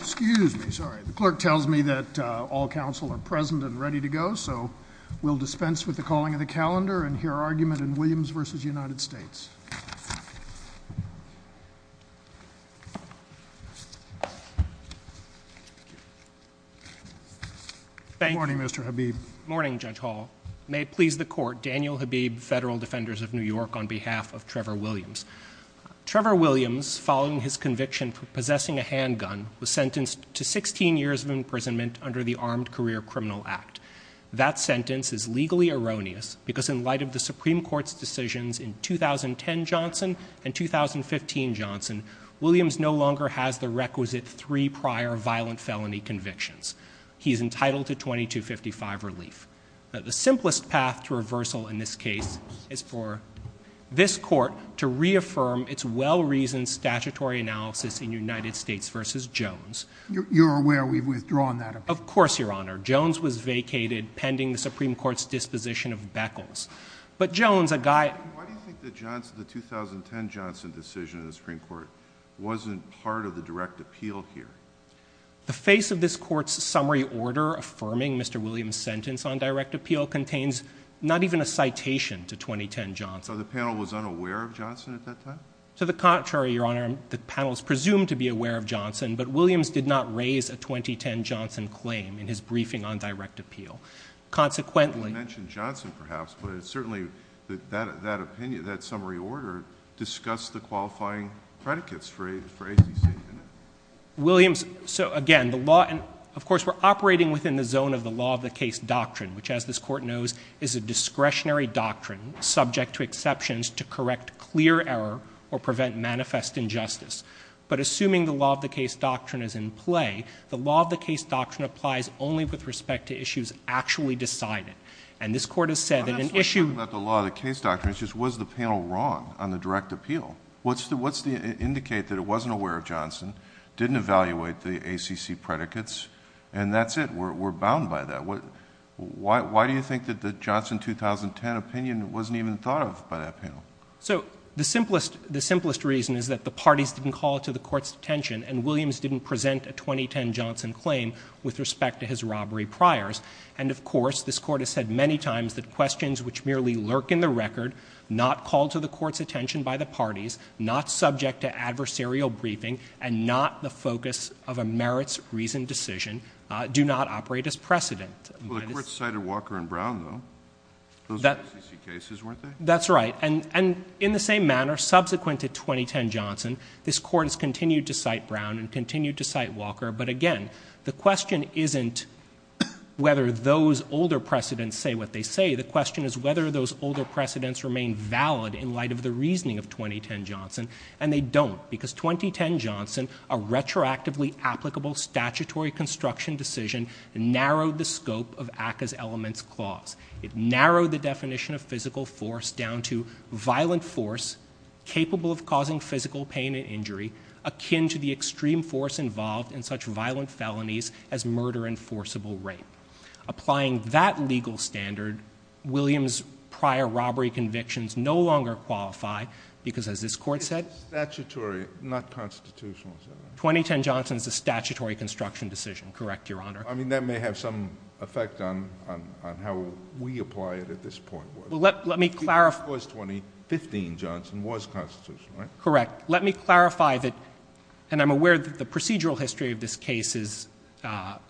Excuse me, sorry. The clerk tells me that all counsel are present and ready to go so we'll dispense with the calling of the calendar and hear argument in Williams v. United States. Morning Mr. Habib. Morning Judge Hall. May it please the court, Daniel Habib, Federal Defenders of New York on behalf of Trevor Williams. Trevor Williams following his conviction for possessing a handgun was sentenced to 16 years of imprisonment under the Armed Career Criminal Act. That sentence is legally erroneous because in light of the Supreme Court's decisions in 2010 Johnson and 2015 Johnson, Williams no longer has the requisite three prior violent felony convictions. He is entitled to 2255 relief. The simplest path to reversal in this case is for this court to reaffirm its well-reasoned statutory analysis in United States v. Jones. You're aware we've withdrawn that opinion? Of course, Your Honor. Jones was vacated pending the Supreme Court's disposition of Beckles. But Jones, a guy... Why do you think the Johnson, the 2010 Johnson decision in the Supreme Court wasn't part of the direct appeal here? The face of this court's summary order affirming Mr. Williams' sentence on direct appeal contains not even a citation to 2010 Johnson. So the panel was unaware of Johnson at that time? To the contrary, Your Honor. The panel is presumed to be aware of Johnson, but Williams did not raise a 2010 Johnson claim in his briefing on direct appeal. Consequently... You mentioned Johnson perhaps, but certainly that opinion, that summary order discussed the qualifying predicates for ACC, didn't it? Williams, so again, the law and of course we're operating within the zone of the law of the case doctrine, which as this court knows is a discretionary doctrine subject to exceptions to correct clear error or prevent manifest injustice. But assuming the law of the case doctrine is in play, the law of the case doctrine applies only with respect to issues actually decided. And this court has said that an issue... I'm not talking about the law of the case doctrine, it's just was the panel wrong on the direct appeal? What's the, what's the, indicate that it wasn't aware of Johnson, didn't evaluate the ACC predicates, and that's it. We're bound by that. Why do you think that the Johnson 2010 opinion wasn't even thought of by that panel? So the simplest, the simplest reason is that the parties didn't call to the court's attention and Williams didn't present a 2010 Johnson claim with respect to his robbery priors. And of course, this court has said many times that questions which merely lurk in the record, not called to the court's attention by the focus of a merits reasoned decision, do not operate as precedent. Well, the court cited Walker and Brown though. Those were ACC cases, weren't they? That's right. And in the same manner, subsequent to 2010 Johnson, this court has continued to cite Brown and continued to cite Walker. But again, the question isn't whether those older precedents say what they say, the question is whether those older precedents remain valid in light of the reasoning of 2010 Johnson, and they don't. Because 2010 Johnson, a retroactively applicable statutory construction decision, narrowed the scope of ACCA's elements clause. It narrowed the definition of physical force down to violent force capable of causing physical pain and injury, akin to the extreme force involved in such violent felonies as murder and forcible rape. Applying that legal standard, Williams' prior robbery convictions no longer qualify, because as this court said- It's statutory, not constitutional, is that right? 2010 Johnson is a statutory construction decision, correct, Your Honor. I mean, that may have some effect on how we apply it at this point. Well, let me clarify- It was 2015 Johnson, it was constitutional, right? Correct. Let me clarify that, and I'm aware that the procedural history of this case is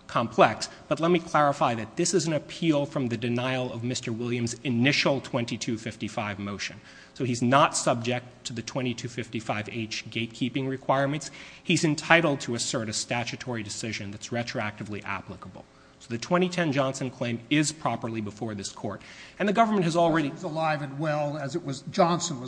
complex, but let me clarify that this is an appeal from the denial of Mr. Williams' initial 2255 motion. So he's not subject to the 2255H gatekeeping requirements. He's entitled to assert a statutory decision that's retroactively applicable. So the 2010 Johnson claim is properly before this court, and the government has already- Johnson was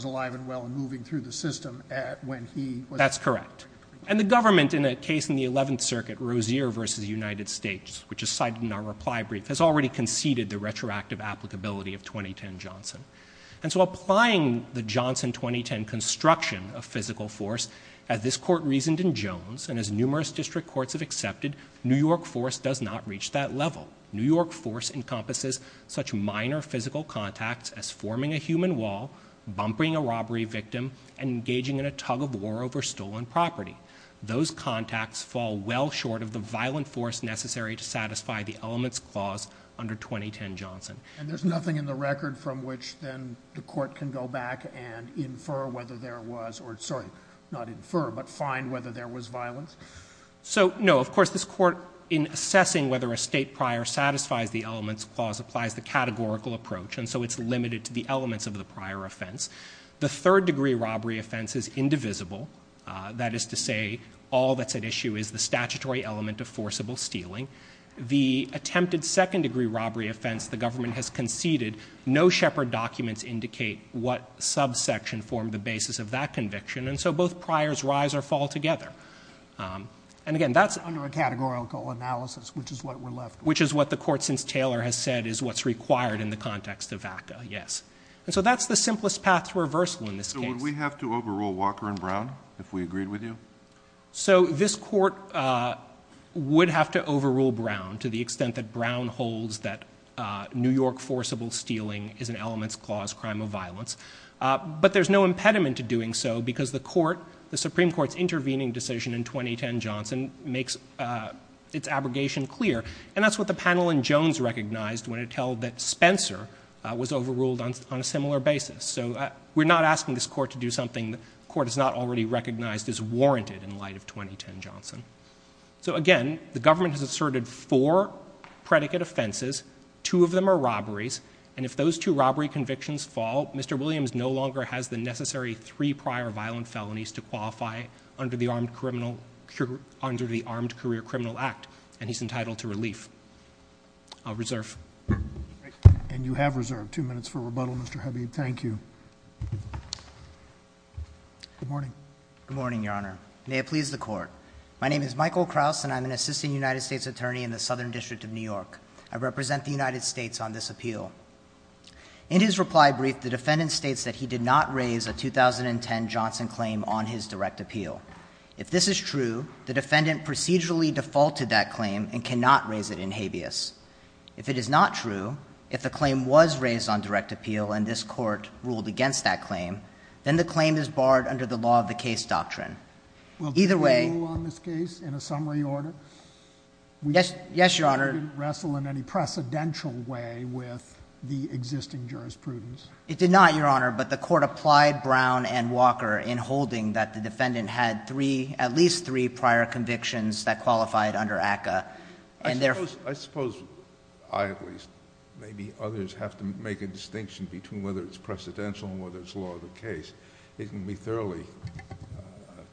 alive and well in moving through the system when he was- That's correct. And the government, in a case in the 11th Circuit, Rozier v. United States, which is cited in our reply brief, has already conceded the retroactive applicability of 2010 Johnson. And so applying the Johnson 2010 construction of physical force, as this court reasoned in Jones, and as numerous district courts have accepted, New York force does not reach that level. New York force encompasses such minor physical contacts as forming a human wall, bumping a robbery victim, and engaging in a tug-of-war over stolen property. Those contacts fall well short of the violent force necessary to satisfy the elements clause under 2010 Johnson. And there's nothing in the record from which then the court can go back and infer whether there was, or sorry, not infer, but find whether there was violence? So, no, of course, this court, in assessing whether a state prior satisfies the elements clause, applies the categorical approach. And so it's limited to the elements of the prior offense. The third degree robbery offense is indivisible. That is to say, all that's at issue is the statutory element of forcible stealing. The attempted second degree robbery offense, the government has conceded. No Shepard documents indicate what subsection formed the basis of that conviction, and so both priors rise or fall together. And again, that's- Under a categorical analysis, which is what we're left with. Which is what the court, since Taylor has said, is what's required in the context of ACTA, yes. And so that's the simplest path to reversal in this case. So would we have to overrule Walker and Brown if we agreed with you? So this court would have to overrule Brown to the extent that Brown holds that New York forcible stealing is an elements clause crime of violence. But there's no impediment to doing so because the Supreme Court's intervening decision in 2010 Johnson makes its abrogation clear. And that's what the panel in Jones recognized when it held that Spencer was overruled on a similar basis. So we're not asking this court to do something the court has not already recognized is warranted in light of 2010 Johnson. So again, the government has asserted four predicate offenses. Two of them are robberies. And if those two robbery convictions fall, Mr. Williams no longer has the necessary three prior violent felonies to qualify under the Armed Career Criminal Act, and he's entitled to relief. I'll reserve. And you have reserved two minutes for rebuttal, Mr. Habib. Thank you. Good morning. Good morning, Your Honor. May it please the court. My name is Michael Kraus, and I'm an assistant United States attorney in the Southern District of New York. I represent the United States on this appeal. In his reply brief, the defendant states that he did not raise a 2010 Johnson claim on his direct appeal. If this is true, the defendant procedurally defaulted that claim and cannot raise it in habeas. If it is not true, if the claim was raised on direct appeal and this court ruled against that claim, then the claim is barred under the law of the case doctrine. Either way- Will you rule on this case in a summary order? Yes, Your Honor. It didn't wrestle in any precedential way with the existing jurisprudence. It did not, Your Honor, but the court applied Brown and Walker in holding that the defendant had three, at least three, prior convictions that qualified under ACCA, and therefore- I suppose, I at least, maybe others have to make a distinction between whether it's precedential and whether it's law of the case. It can be thoroughly,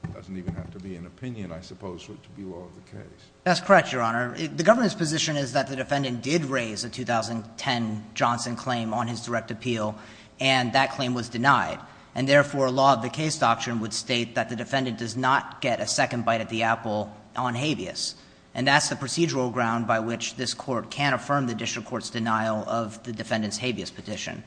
it doesn't even have to be an opinion, I suppose, for it to be law of the case. That's correct, Your Honor. The government's position is that the defendant did raise a 2010 Johnson claim on his direct appeal, and that claim was denied. And therefore, law of the case doctrine would state that the defendant does not get a second bite at the apple on habeas. And that's the procedural ground by which this court can affirm the district court's denial of the defendant's habeas petition.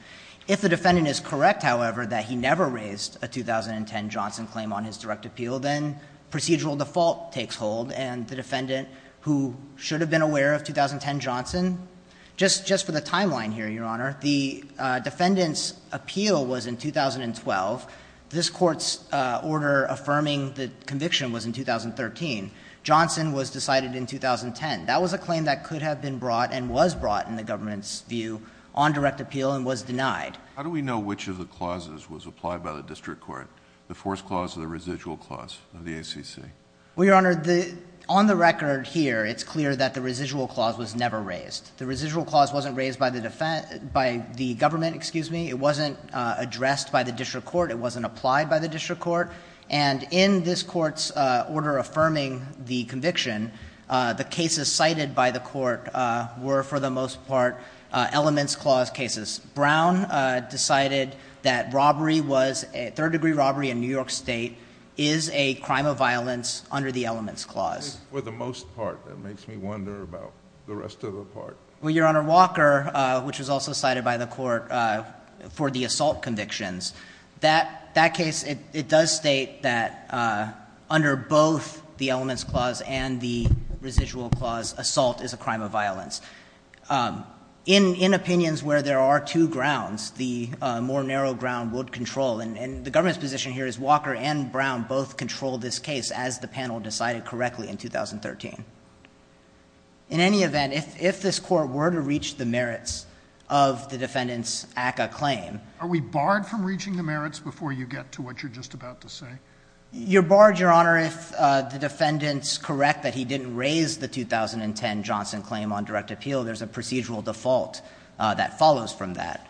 If the defendant is correct, however, that he never raised a 2010 Johnson claim on his direct appeal, then procedural default takes hold, and the defendant, who should have been aware of 2010 Johnson. Just for the timeline here, Your Honor, the defendant's appeal was in 2012. This court's order affirming the conviction was in 2013. Johnson was decided in 2010. That was a claim that could have been brought and was brought in the government's view on direct appeal and was denied. How do we know which of the clauses was applied by the district court, the forced clause or the residual clause of the ACC? Well, Your Honor, on the record here, it's clear that the residual clause was never raised. The residual clause wasn't raised by the government, excuse me. It wasn't addressed by the district court. It wasn't applied by the district court. And in this court's order affirming the conviction, the cases cited by the court were, for the most part, elements clause cases. Brown decided that third degree robbery in New York State is a crime of violence under the elements clause. For the most part, that makes me wonder about the rest of the part. Well, Your Honor, Walker, which was also cited by the court for the assault convictions. That case, it does state that under both the elements clause and the residual clause, assault is a crime of violence. In opinions where there are two grounds, the more narrow ground would control. And the government's position here is Walker and Brown both controlled this case as the panel decided correctly in 2013. In any event, if this court were to reach the merits of the defendant's ACCA claim. Are we barred from reaching the merits before you get to what you're just about to say? You're barred, Your Honor, if the defendants correct that he didn't raise the 2010 Johnson claim on direct appeal. There's a procedural default that follows from that.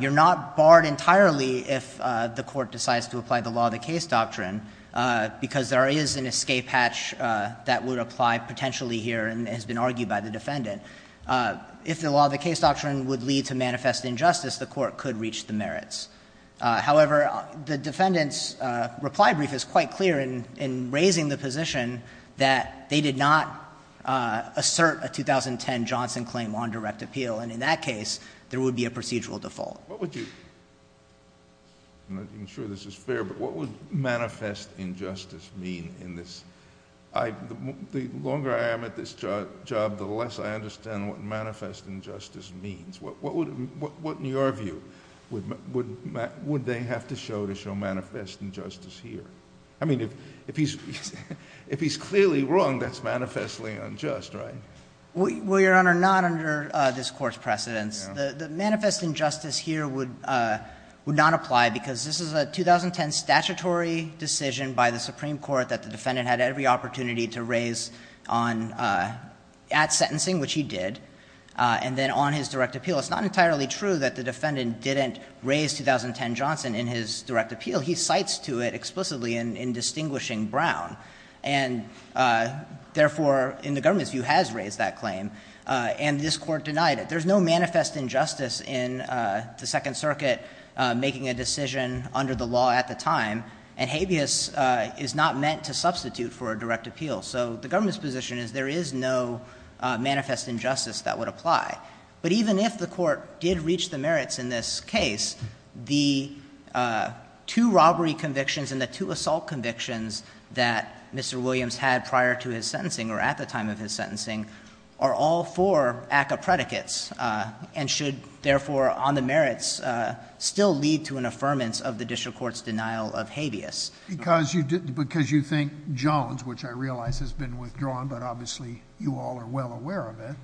You're not barred entirely if the court decides to apply the law of the case doctrine. Because there is an escape hatch that would apply potentially here and has been argued by the defendant. If the law of the case doctrine would lead to manifest injustice, the court could reach the merits. However, the defendant's reply brief is quite clear in raising the position that they did not assert a 2010 Johnson claim on direct appeal, and in that case, there would be a procedural default. What would you, I'm not even sure this is fair, but what would manifest injustice mean in this? The longer I am at this job, the less I understand what manifest injustice means. What, in your view, would they have to show to show manifest injustice here? I mean, if he's clearly wrong, that's manifestly unjust, right? Well, Your Honor, not under this court's precedence. The manifest injustice here would not apply because this is a 2010 statutory decision by the Supreme Court that the defendant had every opportunity to raise at sentencing, which he did. And then on his direct appeal, it's not entirely true that the defendant didn't raise 2010 Johnson in his direct appeal. He cites to it explicitly in distinguishing Brown. And therefore, in the government's view, has raised that claim, and this court denied it. There's no manifest injustice in the Second Circuit making a decision under the law at the time. And habeas is not meant to substitute for a direct appeal. So the government's position is there is no manifest injustice that would apply. But even if the court did reach the merits in this case, the two robbery convictions and the two assault convictions that Mr. Williams had prior to his sentencing, or at the time of his sentencing, are all for ACA predicates, and should therefore on the merits still lead to an affirmance of the district court's denial of habeas. Because you think Jones, which I realize has been withdrawn, but obviously you all are well aware of it,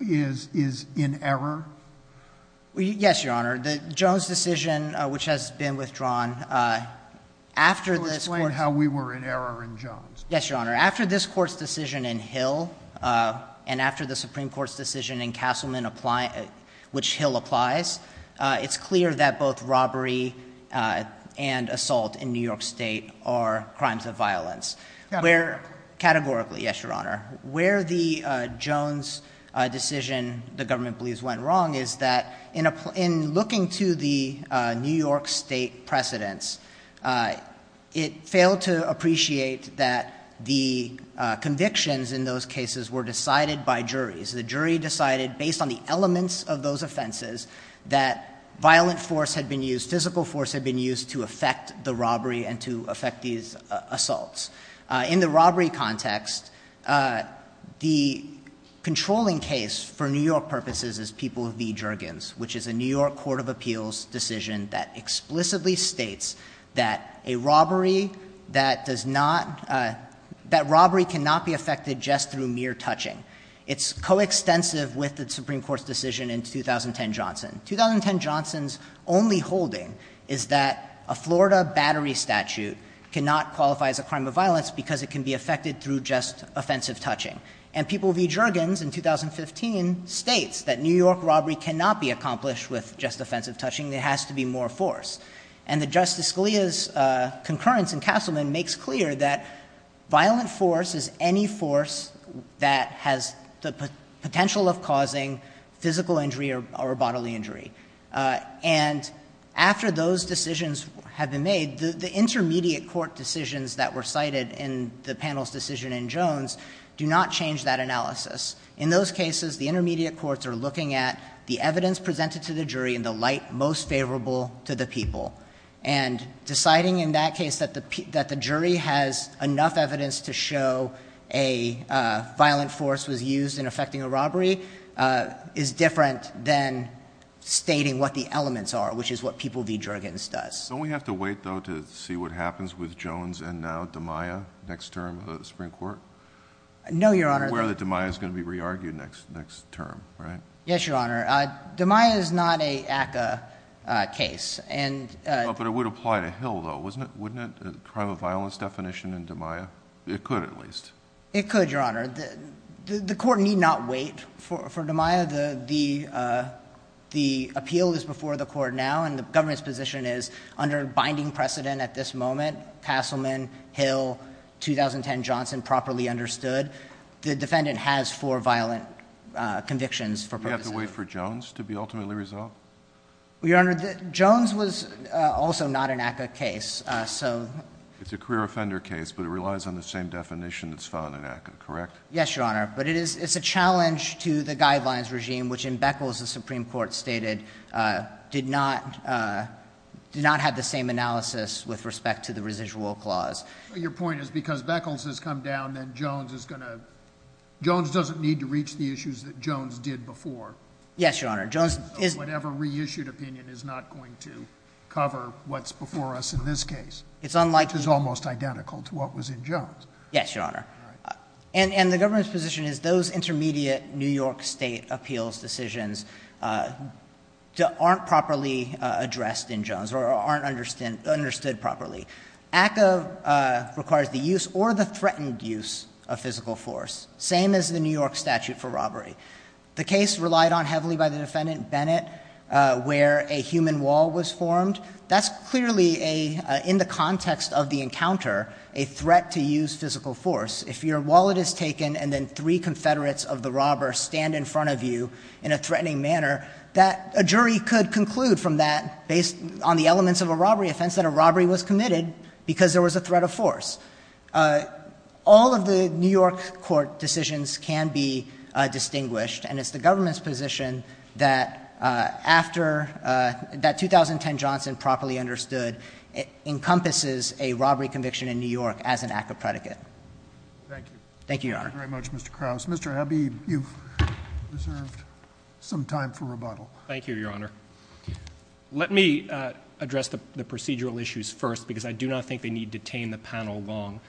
is in error? Yes, Your Honor. The Jones decision, which has been withdrawn, after this court's- You're explaining how we were in error in Jones. Yes, Your Honor. After this court's decision in Hill, and after the Supreme Court's decision in Castleman, which Hill applies, it's clear that both robbery and assault in New York State are crimes of violence. Where categorically, yes, Your Honor, where the Jones decision, the government believes went wrong, is that in looking to the New York State precedents, it failed to appreciate that the convictions in those cases were decided by juries. The jury decided, based on the elements of those offenses, that violent force had been used, physical force had been used to affect the robbery and to affect these assaults. In the robbery context, the controlling case for New York purposes is People v. Jergens, which is a New York Court of Appeals decision that explicitly states that a robbery that does not, that robbery cannot be affected just through mere touching. It's coextensive with the Supreme Court's decision in 2010 Johnson. 2010 Johnson's only holding is that a Florida battery statute cannot qualify as a crime of violence because it can be affected through just offensive touching. And People v. Jergens in 2015 states that New York robbery cannot be accomplished with just offensive touching. There has to be more force. And the Justice Scalia's concurrence in Castleman makes clear that violent force is any force that has the potential of causing physical injury or bodily injury. And after those decisions have been made, the intermediate court decisions that were cited in the panel's decision in Jones do not change that analysis. In those cases, the intermediate courts are looking at the evidence presented to the jury in the light most favorable to the people. And deciding in that case that the jury has enough evidence to show a violent force was used in affecting a robbery is different than stating what the elements are, which is what People v. Jergens does. Don't we have to wait though to see what happens with Jones and now Damiah next term of the Supreme Court? No, Your Honor. We're aware that Damiah's going to be re-argued next term, right? Yes, Your Honor. Damiah is not a ACCA case. But it would apply to Hill, though, wouldn't it, the crime of violence definition in Damiah? It could, at least. It could, Your Honor. The court need not wait for Damiah. The appeal is before the court now, and the government's position is, under binding precedent at this moment, Castleman, Hill, 2010 Johnson, properly understood. The defendant has four violent convictions for purposes of- Don't we have to wait for Jones to be ultimately resolved? Your Honor, Jones was also not an ACCA case, so- It's a career offender case, but it relies on the same definition that's found in ACCA, correct? Yes, Your Honor, but it's a challenge to the guidelines regime, which in Beckles, the Supreme Court stated, did not have the same analysis with respect to the residual clause. Your point is, because Beckles has come down, then Jones is going to- Jones doesn't need to reach the issues that Jones did before. Yes, Your Honor, Jones is- Whatever reissued opinion is not going to cover what's before us in this case. It's unlikely- Which is almost identical to what was in Jones. Yes, Your Honor. And the government's position is, those intermediate New York state appeals decisions aren't properly addressed in Jones, or aren't understood properly. ACCA requires the use or the threatened use of physical force, same as the New York statute for robbery. The case relied on heavily by the defendant Bennett, where a human wall was formed. That's clearly, in the context of the encounter, a threat to use physical force. If your wallet is taken and then three confederates of the robber stand in front of you in a threatening manner, that a jury could conclude from that, based on the elements of a robbery offense, that a robbery was committed because there was a threat of force. All of the New York court decisions can be distinguished, and it's the government's position that after that 2010 Johnson properly understood, it encompasses a robbery conviction in New York as an ACCA predicate. Thank you. Thank you, Your Honor. Thank you very much, Mr. Krauss. Mr. Abbey, you've reserved some time for rebuttal. Thank you, Your Honor. Let me address the procedural issues first, because I do not think they need to detain the panel long.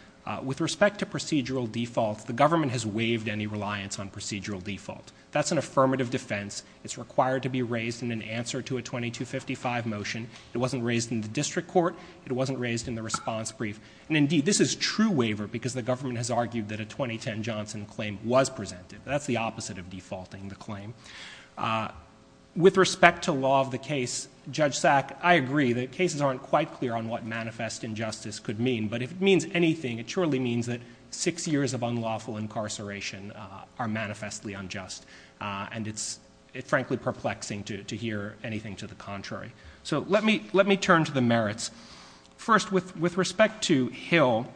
With respect to procedural defaults, the government has waived any reliance on procedural default. That's an affirmative defense. It's required to be raised in an answer to a 2255 motion. It wasn't raised in the district court. It wasn't raised in the response brief. And indeed, this is true waiver, because the government has argued that a 2010 Johnson claim was presented. That's the opposite of defaulting the claim. With respect to law of the case, Judge Sack, I agree that cases aren't quite clear on what manifest injustice could mean. But if it means anything, it surely means that six years of unlawful incarceration are manifestly unjust. And it's frankly perplexing to hear anything to the contrary. So let me turn to the merits. First, with respect to Hill,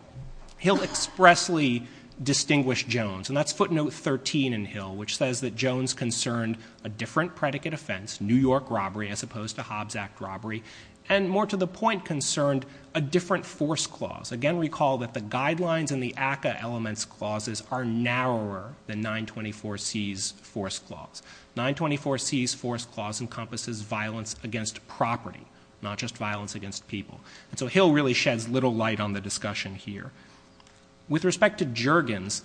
Hill expressly distinguished Jones. And that's footnote 13 in Hill, which says that Jones concerned a different predicate offense, New York robbery as opposed to Hobbs Act robbery, and more to the point concerned a different force clause. Again, recall that the guidelines in the ACA elements clauses are narrower than 924C's force clause. 924C's force clause encompasses violence against property, not just violence against people. And so Hill really sheds little light on the discussion here. With respect to Jurgens,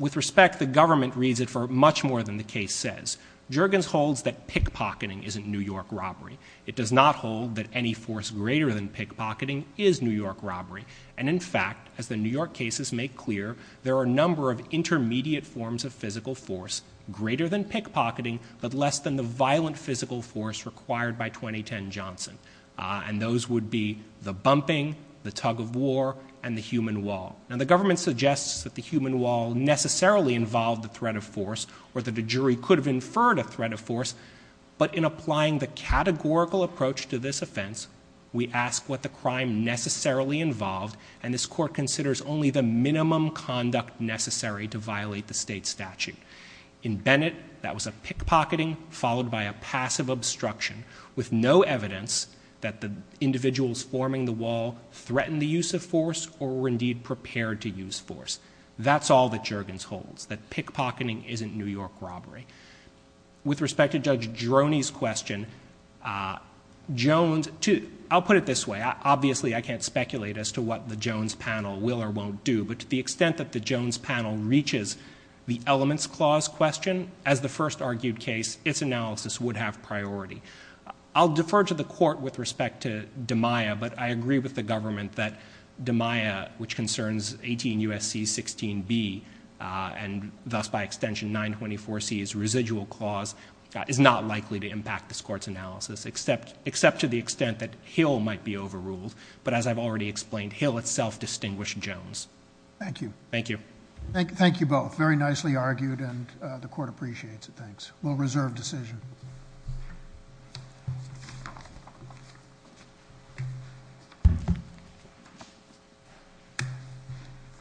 with respect, the government reads it for much more than the case says. Jurgens holds that pickpocketing isn't New York robbery. It does not hold that any force greater than pickpocketing is New York robbery. And in fact, as the New York cases make clear, there are a number of intermediate forms of physical force, greater than pickpocketing, but less than the violent physical force required by 2010 Johnson. And those would be the bumping, the tug of war, and the human wall. Now the government suggests that the human wall necessarily involved the threat of force, or that a jury could have inferred a threat of force. But in applying the categorical approach to this offense, we ask what the crime necessarily involved. And this court considers only the minimum conduct necessary to violate the state statute. In Bennett, that was a pickpocketing followed by a passive obstruction with no evidence that the individuals forming the wall threatened the use of force or were indeed prepared to use force. That's all that Jurgens holds, that pickpocketing isn't New York robbery. With respect to Judge Droney's question, Jones, I'll put it this way. Obviously, I can't speculate as to what the Jones panel will or won't do. But to the extent that the Jones panel reaches the elements clause question, as the first argued case, its analysis would have priority. I'll defer to the court with respect to DiMaia, but I agree with the government that DiMaia, which concerns 18 U.S.C. 16B, and thus by extension 924C's residual clause, is not likely to impact this court's analysis, except to the extent that Hill might be overruled. But as I've already explained, Hill itself distinguished Jones. Thank you. Thank you. Thank you both. Very nicely argued, and the court appreciates it, thanks. We'll reserve decision. Thank you.